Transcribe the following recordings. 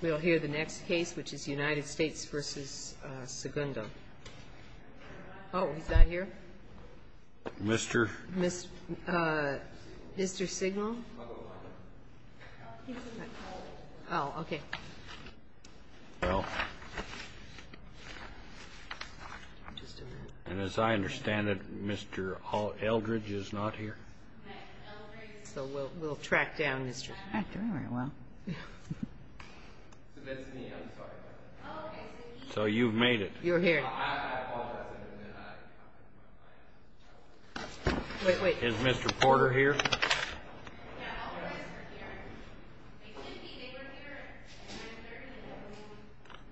We'll hear the next case, which is United States v. Segundo. Oh, he's not here? Mr. Mr. Signal? Oh, okay. And as I understand it, Mr. Eldridge is not here? So we'll track down Mr. We're not doing very well. So you've made it? You're here. Wait, wait. Is Mr. Porter here?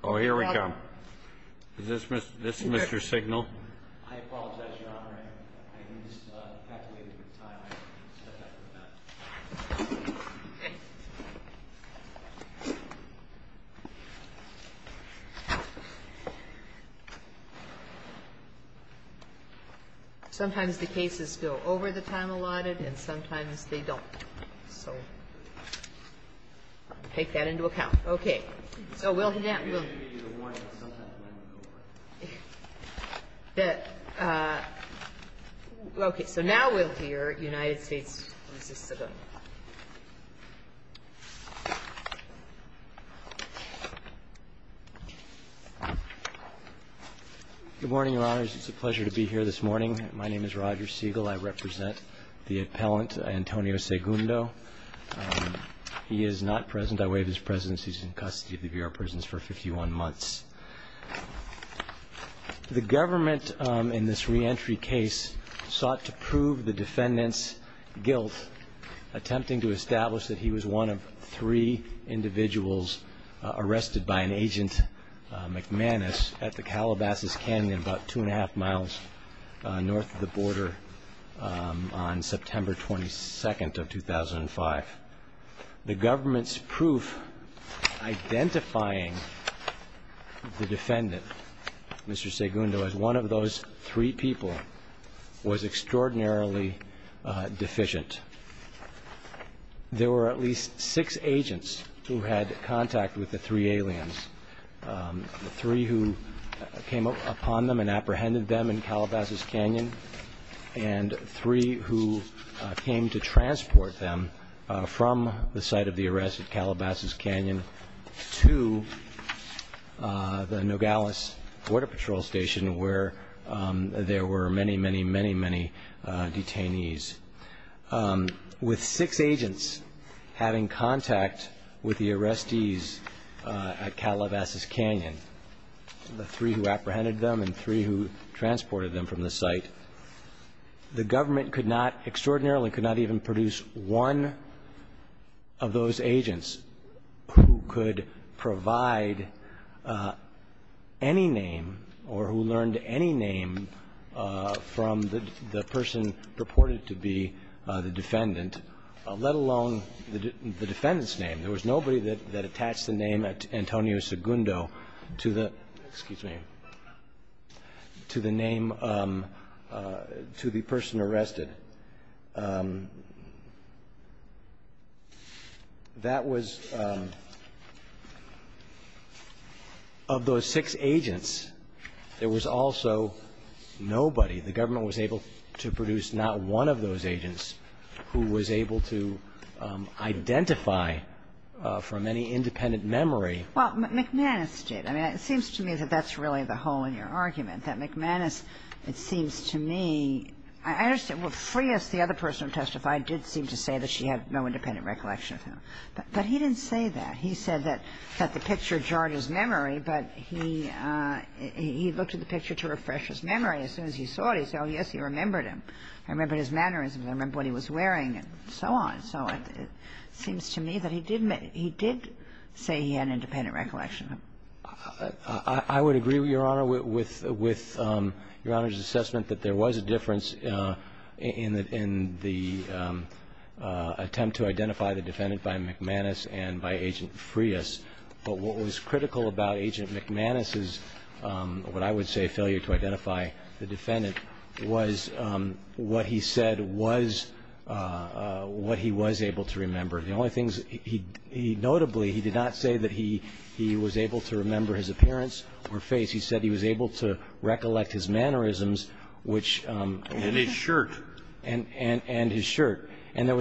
Oh, here we come. Is this Mr. Signal? Sometimes the cases go over the time allotted and sometimes they don't. So take that into account. Okay. So now we'll hear United States v. Segundo. Good morning, Your Honors. It's a pleasure to be here this morning. My name is Roger Siegel. I represent the appellant, Antonio Segundo. He is not present. I waive his presence. He's in custody of the Bureau of Prisons for 51 months. The government, in this reentry case, sought to prove the defendant's guilt, attempting to establish that he was one of three individuals arrested by an agent, McManus, at the Calabasas Canyon, about two and a half miles north of the border, on September 22nd of 2005. The government's proof identifying the defendant, Mr. Segundo, as one of those three people was extraordinarily deficient. There were at least six agents who had contact with the three aliens, the three who came upon them and apprehended them in Calabasas Canyon and three who came to transport them from the site of the arrest at Calabasas Canyon to the Nogales Border Patrol Station where there were many, many, many, many detainees. With six agents having contact with the arrestees at Calabasas Canyon, the three who apprehended them and three who transported them from the site, the government could not extraordinarily, could not even produce one of those agents who could provide any name or who learned any name from the person purported to be the defendant, let alone the defendant's name. There was nobody that attached the name Antonio Segundo to the, excuse me, to the name, to the person arrested. That was, of those six agents, there was also nobody, the government was able to produce not one of those agents who was able to identify from any independent memory. Well, McManus did. I mean, it seems to me that that's really the hole in your argument, that McManus, it seems to me, I understand, well, Freas, the other person who testified, did seem to say that she had no independent recollection of him. But he didn't say that. He said that the picture jarred his memory, but he looked at the picture to refresh his memory. As soon as he saw it, he said, oh, yes, he remembered him. I remember his mannerisms. I remember what he was wearing and so on and so on. It seems to me that he did say he had independent recollection of him. I would agree, Your Honor, with Your Honor's assessment that there was a difference in the attempt to identify the defendant by McManus and by Agent Freas. But what was critical about Agent McManus's, what I would say, failure to identify the defendant was what he said was what he was able to remember. The only things he notably, he did not say that he was able to remember his appearance or face. He said he was able to recollect his mannerisms, which was his shirt. And his shirt. And there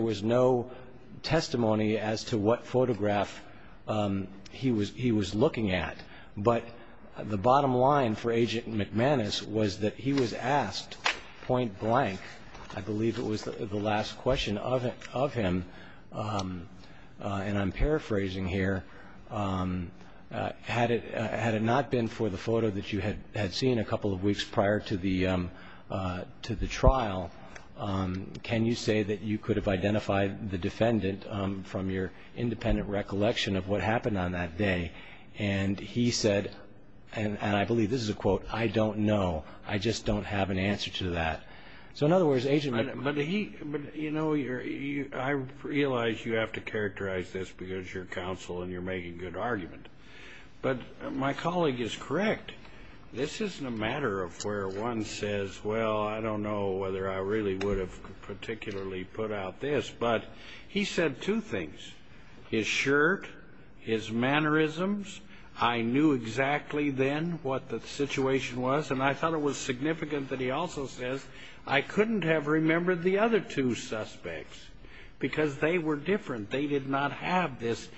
was no testimony as to what photograph he was looking at. But the bottom line for Agent McManus was that he was asked point blank, I believe it was the last question of him, and I'm paraphrasing here, had it not been for the photo that you had seen a couple of weeks prior to the trial, can you say that you could have identified the defendant from your independent recollection of what happened on that day? And he said, and I believe this is a quote, I don't know. I just don't have an answer to that. So, in other words, Agent McManus. But, you know, I realize you have to characterize this because you're counsel and you're making good argument. But my colleague is correct. This isn't a matter of where one says, well, I don't know whether I really would have particularly put out this. But he said two things, his shirt, his mannerisms, I knew exactly then what the situation was, and I thought it was significant that he also says, I couldn't have remembered the other two suspects because they were different. They did not have this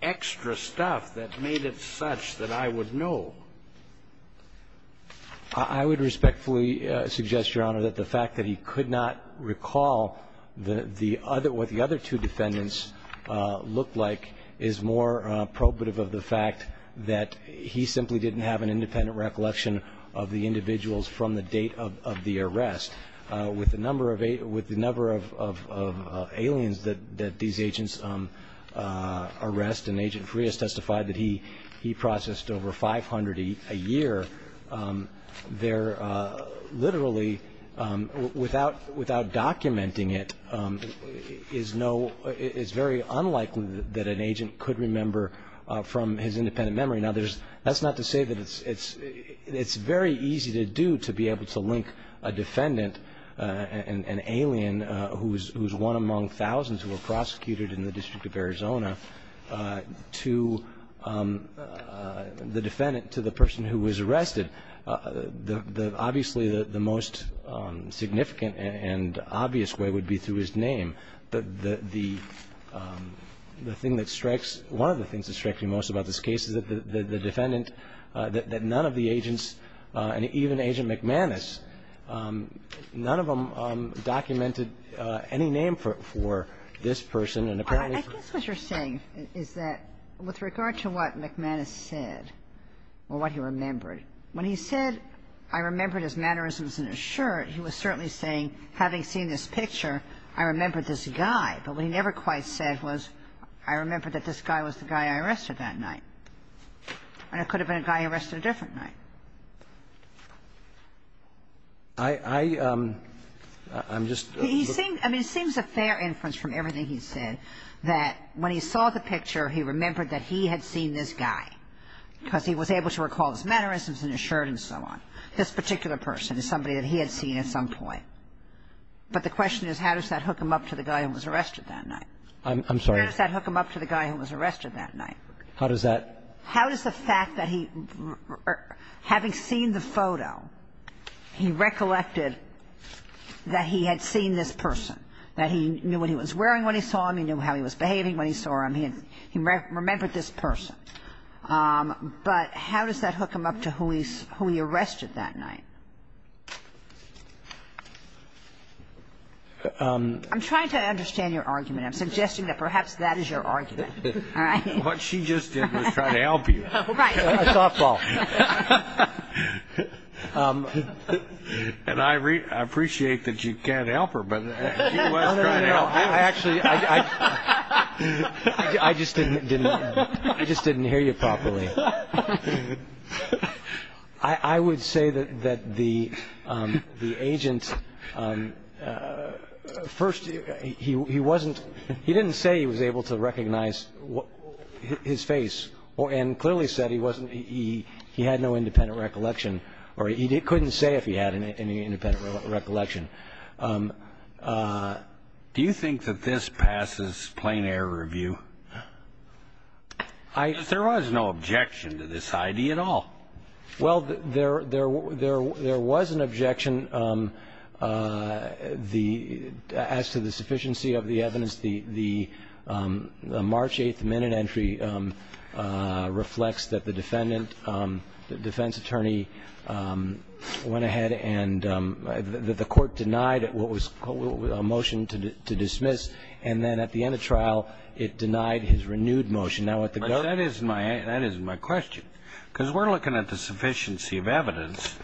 extra stuff that made it such that I would know. I would respectfully suggest, Your Honor, that the fact that he could not recall what the other two defendants looked like is more probative of the fact that he simply didn't have an independent recollection of the individuals from the date of the arrest. With the number of aliens that these agents arrest, and Agent Frias testified that he processed over 500 a year, there literally, without documenting it, is very unlikely that an agent could remember from his independent memory. Now, that's not to say that it's very easy to do to be able to link a defendant, an alien who is one among thousands who were prosecuted in the District of Arizona, to the defendant, to the person who was arrested. Obviously, the most significant and obvious way would be through his name. But the thing that strikes one of the things that strikes me most about this case is that the defendant, that none of the agents, and even Agent McManus, none of them documented any name for this person, and apparently for him. I guess what you're saying is that with regard to what McManus said or what he remembered, when he said, I remembered his mannerisms and his shirt, he was certainly saying, having seen this picture, I remembered this guy. But what he never quite said was, I remembered that this guy was the guy I arrested that night. And it could have been a guy he arrested a different night. I'm just looking. I mean, it seems a fair inference from everything he said that when he saw the picture, he remembered that he had seen this guy because he was able to recall his mannerisms and his shirt and so on. This particular person is somebody that he had seen at some point. But the question is, how does that hook him up to the guy who was arrested that night? I'm sorry. How does that hook him up to the guy who was arrested that night? How does that ---- How does the fact that he, having seen the photo, he recollected that he had seen this person, that he knew what he was wearing when he saw him, he knew how he was behaving when he saw him, he remembered this person. But how does that hook him up to who he arrested that night? I'm trying to understand your argument. I'm suggesting that perhaps that is your argument. All right? What she just did was try to help you. Right. Softball. And I appreciate that you can't help her, but she was trying to help you. No, I actually ---- I just didn't hear you properly. I would say that the agent, first, he didn't say he was able to recognize his face and clearly said he had no independent recollection, or he couldn't say if he had any independent recollection. Do you think that this passes plain air review? I ---- Because there was no objection to this idea at all. Well, there was an objection. As to the sufficiency of the evidence, the March 8th minute entry reflects that the defendant, the defense attorney, went ahead and the court denied what was a motion to dismiss, and then at the end of trial, it denied his renewed motion. Now, at the court ---- But that isn't my question, because we're looking at the sufficiency of evidence.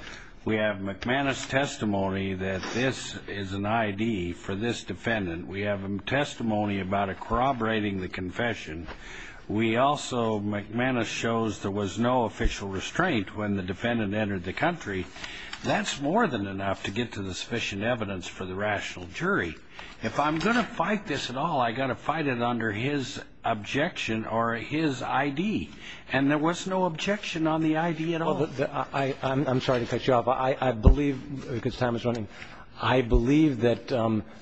We have McManus' testimony that this is an I.D. for this defendant. We have testimony about it corroborating the confession. We also ---- McManus shows there was no official restraint when the defendant entered the country. That's more than enough to get to the sufficient evidence for the rational jury. If I'm going to fight this at all, I've got to fight it under his objection or his I.D., and there was no objection on the I.D. at all. I'm sorry to cut you off. I believe, because time is running, I believe that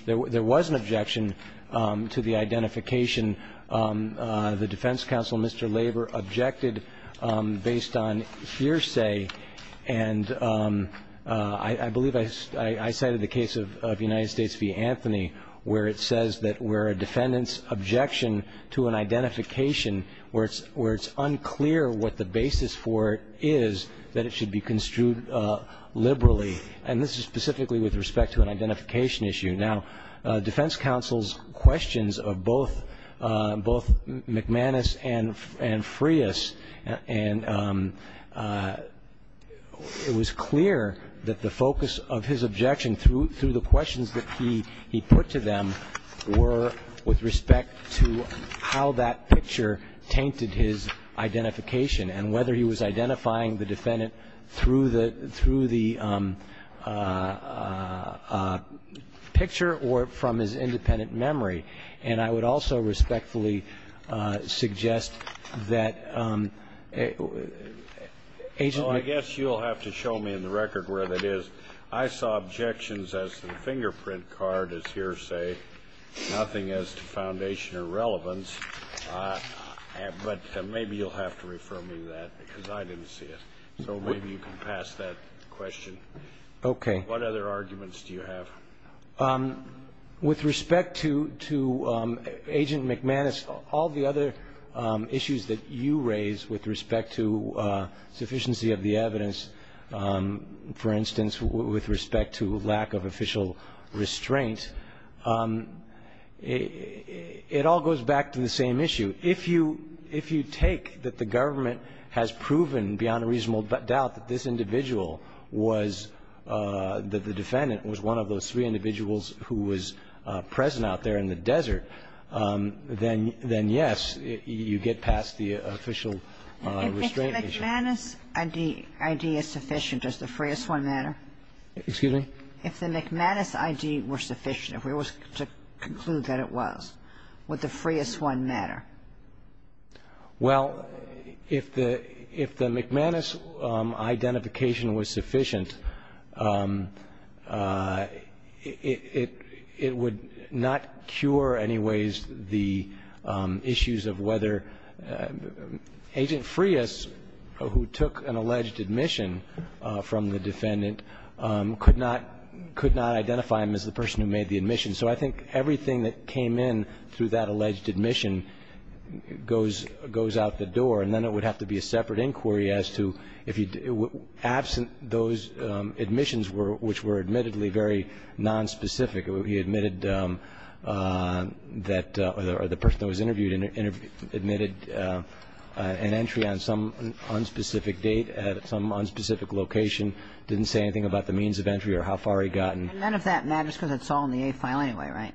there was an objection to the identification. The defense counsel, Mr. Labor, objected based on hearsay. And I believe I cited the case of United States v. Anthony, where it says that where a defendant's objection to an identification, where it's unclear what the basis for it is, that it should be construed liberally. And this is specifically with respect to an identification issue. Now, defense counsel's questions of both McManus and Freas, and it was clear that the focus of his objection through the questions that he put to them were with respect to how that picture tainted his identification and whether he was identifying the defendant through the picture or from his independent memory. And I would also respectfully suggest that Agent McManus. Well, I guess you'll have to show me in the record where that is. I saw objections as the fingerprint card, as hearsay, nothing as to foundation or relevance. But maybe you'll have to refer me to that because I didn't see it. So maybe you can pass that question. Okay. What other arguments do you have? With respect to Agent McManus, all the other issues that you raise with respect to sufficiency of the evidence, for instance, with respect to lack of official restraint, it all goes back to the same issue. If you take that the government has proven beyond a reasonable doubt that this individual was, that the defendant was one of those three individuals who was present out there in the desert, then, yes, you get past the official restraint issue. If the McManus ID is sufficient, does the Freas one matter? Excuse me? If the McManus ID were sufficient, if we were to conclude that it was, would the Freas one matter? Well, if the McManus identification was sufficient, it would not cure, anyways, the issues of whether Agent Freas, who took an alleged admission from the defendant, could not identify him as the person who made the admission. So I think everything that came in through that alleged admission goes out the door. And then it would have to be a separate inquiry as to if you, absent those admissions which were admittedly very nonspecific. He admitted that the person that was interviewed admitted an entry on some unspecific date at some unspecific location, didn't say anything about the means of entry or how far he'd gotten. And none of that matters because it's all in the A file anyway, right?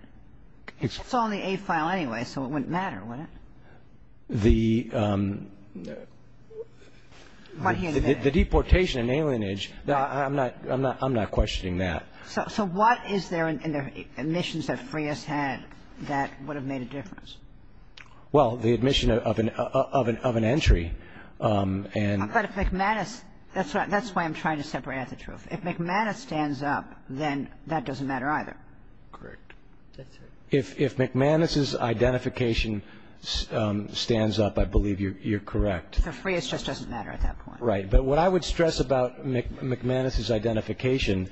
It's all in the A file anyway, so it wouldn't matter, would it? The deportation and alienage, I'm not questioning that. So what is there in the admissions that Freas had that would have made a difference? Well, the admission of an entry. But if McManus, that's why I'm trying to separate out the truth. If McManus stands up, then that doesn't matter either. Correct. If McManus's identification stands up, I believe you're correct. So Freas just doesn't matter at that point. Right. But what I would stress about McManus's identification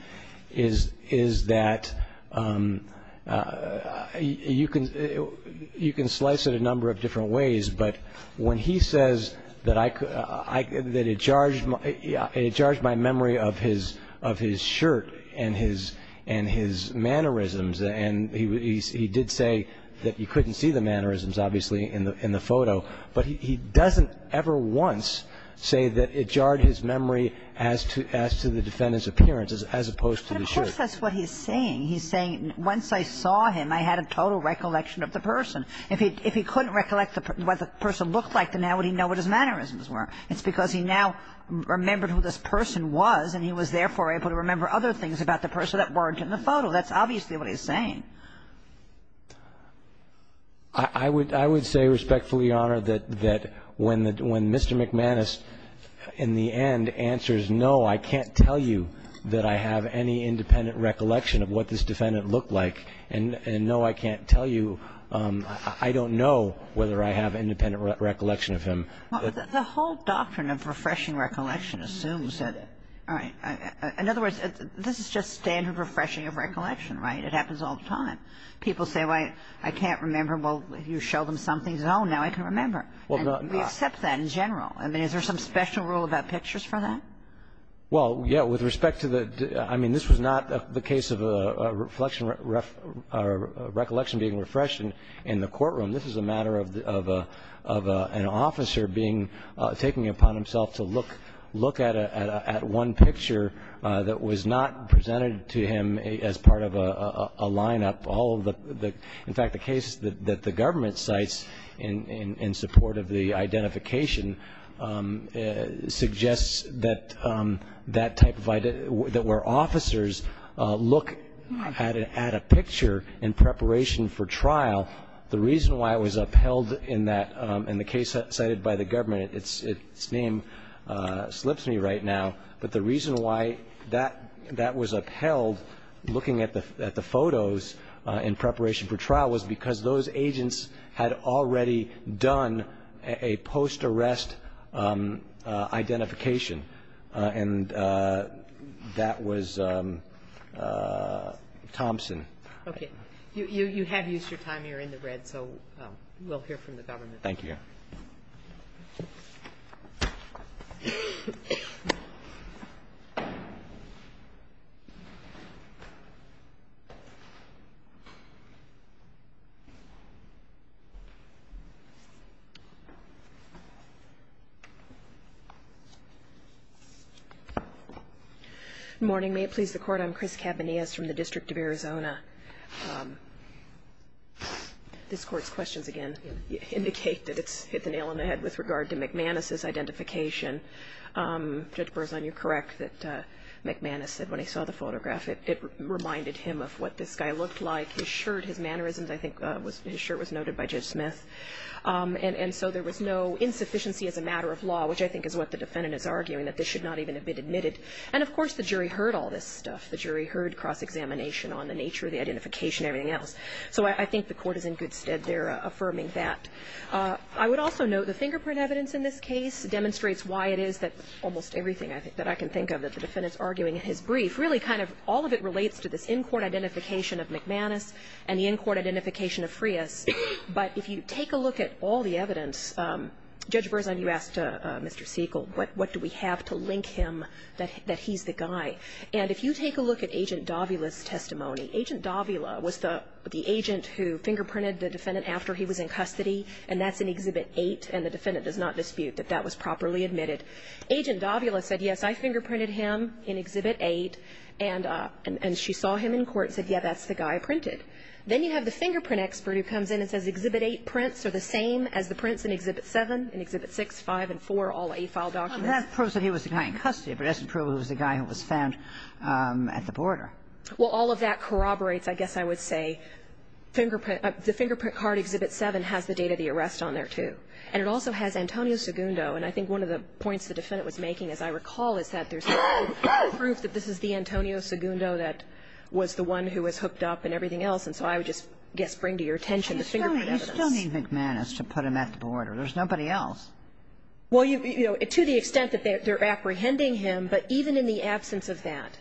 is that you can slice it a number of different ways, but when he says that it jarred my memory of his shirt and his mannerisms and he did say that you couldn't see the mannerisms, obviously, in the photo, but he doesn't ever once say that it jarred his memory as to the defendant's appearance as opposed to the shirt. But of course that's what he's saying. He's saying once I saw him, I had a total recollection of the person. If he couldn't recollect what the person looked like, then how would he know what his mannerisms were? It's because he now remembered who this person was and he was, therefore, able to remember other things about the person that weren't in the photo. That's obviously what he's saying. I would say respectfully, Your Honor, that when Mr. McManus in the end answers, no, I can't tell you that I have any independent recollection of what this defendant looked like and no, I can't tell you, I don't know whether I have independent recollection of him. The whole doctrine of refreshing recollection assumes that, all right. In other words, this is just standard refreshing of recollection, right? It happens all the time. People say, well, I can't remember. Well, you show them something and say, oh, now I can remember. We accept that in general. I mean, is there some special rule about pictures for that? Well, yeah, with respect to the – I mean, this was not the case of a reflection or recollection being refreshed in the courtroom. This is a matter of an officer being – taking it upon himself to look at one picture that was not presented to him as part of a lineup. All of the – in fact, the case that the government cites in support of the identification suggests that that type of – that where officers look at a picture in preparation for trial, the reason why it was upheld in that – in the case cited by the government, its name slips me right now, but the reason why that was upheld, looking at the photos in preparation for trial, was because those agents had already done a post-arrest identification. And that was Thompson. Okay. You have used your time. You're in the red, so we'll hear from the government. Thank you. Good morning. May it please the Court, I'm Chris Cabanillas from the District of Arizona. This Court's questions, again, indicate that it's hit the nail on the head with regard to McManus's identification. Judge Berzon, you're correct that McManus said when he saw the photograph, it reminded him of what this guy looked like. I think his shirt was noted by Judge Smith. And so there was no insufficiency as a matter of law, which I think is what the defendant is arguing, that this should not even have been admitted. And, of course, the jury heard all this stuff. The jury heard cross-examination on the nature of the identification and everything else. So I think the Court is in good stead there affirming that. I would also note the fingerprint evidence in this case demonstrates why it is that almost everything, I think, that I can think of that the defendant is arguing in his brief, really kind of all of it relates to this in-court identification of McManus and the in-court identification of Frias. But if you take a look at all the evidence, Judge Berzon, you asked Mr. Siegel, what do we have to link him that he's the guy? And if you take a look at Agent Davila's testimony, Agent Davila was the agent who fingerprinted the defendant after he was in custody, and that's in Exhibit 8, and the defendant does not dispute that that was properly admitted. Agent Davila said, yes, I fingerprinted him in Exhibit 8, and she saw him in court and said, yes, that's the guy I printed. Then you have the fingerprint expert who comes in and says Exhibit 8 prints are the same as the prints in Exhibit 7, in Exhibit 6, 5, and 4, all A file documents. And that proves that he was the guy in custody, but it doesn't prove he was the guy who was found at the border. Well, all of that corroborates, I guess I would say, fingerprint – the fingerprint card, Exhibit 7, has the date of the arrest on there, too. And it also has Antonio Segundo, and I think one of the points the defendant was making, as I recall, is that there's no proof that this is the Antonio Segundo that was the one who was hooked up and everything else, and so I would just, I guess, bring to your attention the fingerprint evidence. But you still need McManus to put him at the border. There's nobody else. Well, you know, to the extent that they're apprehending him, but even in the absence of that,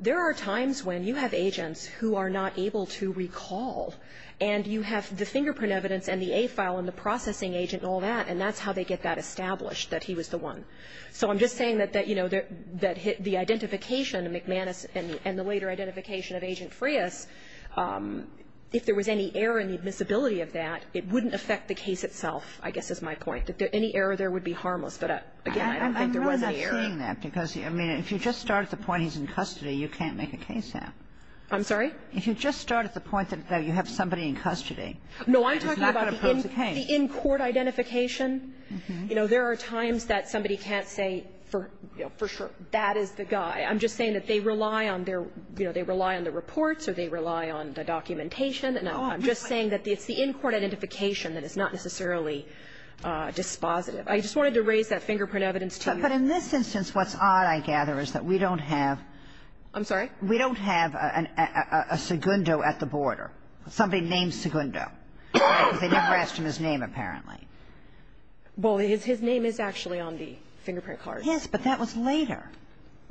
there are times when you have agents who are not able to recall, and you have the fingerprint evidence and the A file and the processing agent and all that, and that's how they get that established, that he was the one. So I'm just saying that, you know, that the identification of McManus and the later identification of Agent Frias, if there was any error in the admissibility of that, it wouldn't affect the case itself, I guess is my point, that any error there would be harmless. But, again, I don't think there was any error. I'm not seeing that, because, I mean, if you just start at the point he's in custody, you can't make a case out. I'm sorry? If you just start at the point that you have somebody in custody, it's not going to prove the case. No, I'm talking about the in-court identification. You know, there are times that somebody can't say for sure, that is the guy. I'm just saying that they rely on their, you know, they rely on the reports or they rely on the documentation. And I'm just saying that it's the in-court identification that is not necessarily dispositive. I just wanted to raise that fingerprint evidence to you. But in this instance, what's odd, I gather, is that we don't have we don't have a Segundo at the border. Somebody named Segundo, because they never asked him his name, apparently. Well, his name is actually on the fingerprint card. Yes, but that was later.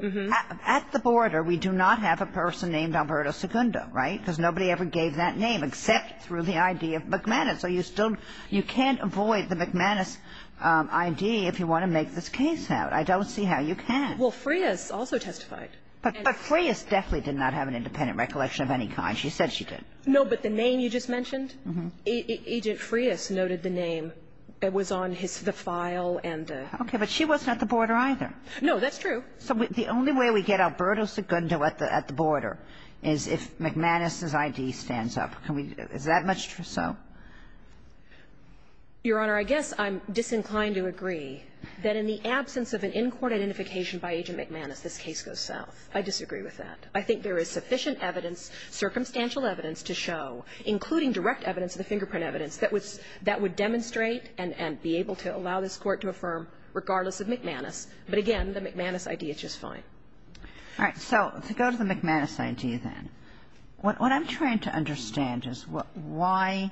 Mm-hmm. At the border, we do not have a person named Alberto Segundo, right? Because nobody ever gave that name except through the ID of McManus. So you still you can't avoid the McManus ID if you want to make this case out. I don't see how you can. Well, Frias also testified. But Frias definitely did not have an independent recollection of any kind. She said she did. No, but the name you just mentioned? Mm-hmm. Agent Frias noted the name. It was on his the file and the. Okay. But she wasn't at the border either. No, that's true. So the only way we get Alberto Segundo at the border is if McManus's ID stands up. Can we do that? Is that much so? Your Honor, I guess I'm disinclined to agree that in the absence of an in-court identification by Agent McManus, this case goes south. I disagree with that. I think there is sufficient evidence, circumstantial evidence, to show, including direct evidence and the fingerprint evidence, that would demonstrate and be able to allow this Court to affirm, regardless of McManus. But again, the McManus ID is just fine. All right. So to go to the McManus ID then. What I'm trying to understand is why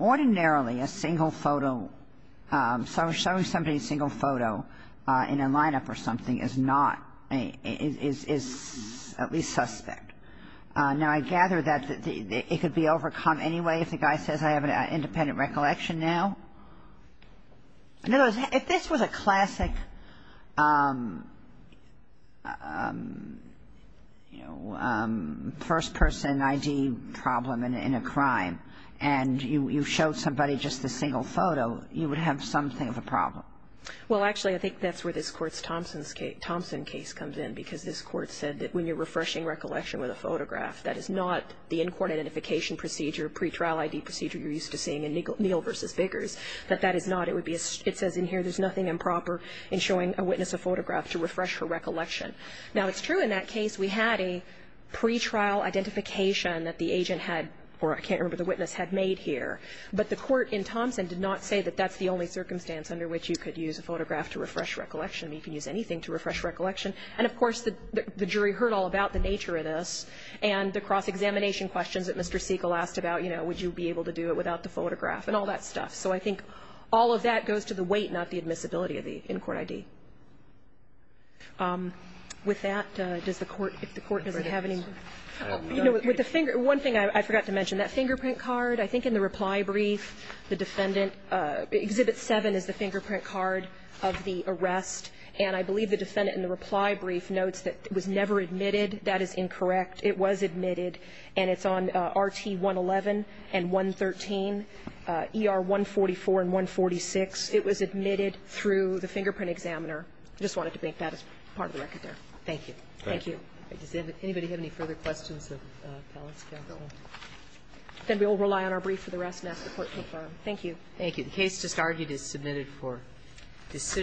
ordinarily a single photo, showing somebody a single photo in a lineup or something is not, is at least suspect. Now, I gather that it could be overcome anyway if the guy says I have an independent recollection now. In other words, if this was a classic, you know, first-person ID problem in a crime and you showed somebody just a single photo, you would have something of a problem. Well, actually, I think that's where this Court's Thompson case comes in, because this Court said that when you're refreshing recollection with a photograph, that is not the in-court identification procedure, pretrial ID procedure you're used to seeing in Neal v. Vickers, that that is not. It says in here there's nothing improper in showing a witness a photograph to refresh her recollection. Now, it's true in that case we had a pretrial identification that the agent had, or I can't remember, the witness had made here. But the Court in Thompson did not say that that's the only circumstance under which you could use a photograph to refresh recollection. You can use anything to refresh recollection. And, of course, the jury heard all about the nature of this, and the cross-examination questions that Mr. Siegel asked about, you know, would you be able to do it without the photograph, and all that stuff. So I think all of that goes to the weight, not the admissibility of the in-court ID. With that, does the Court, if the Court doesn't have any more. You know, with the finger one thing I forgot to mention, that fingerprint card, I think in the reply brief, the defendant, Exhibit 7 is the fingerprint card of the arrest. And I believe the defendant in the reply brief notes that it was never admitted. That is incorrect. It was admitted. And it's on RT111 and 113, ER144 and 146. It was admitted through the fingerprint examiner. I just wanted to make that as part of the record there. Thank you. Thank you. Does anybody have any further questions of Pellis? Then we'll rely on our brief for the rest and ask the Court to confirm. Thank you. The case just argued is submitted for decision.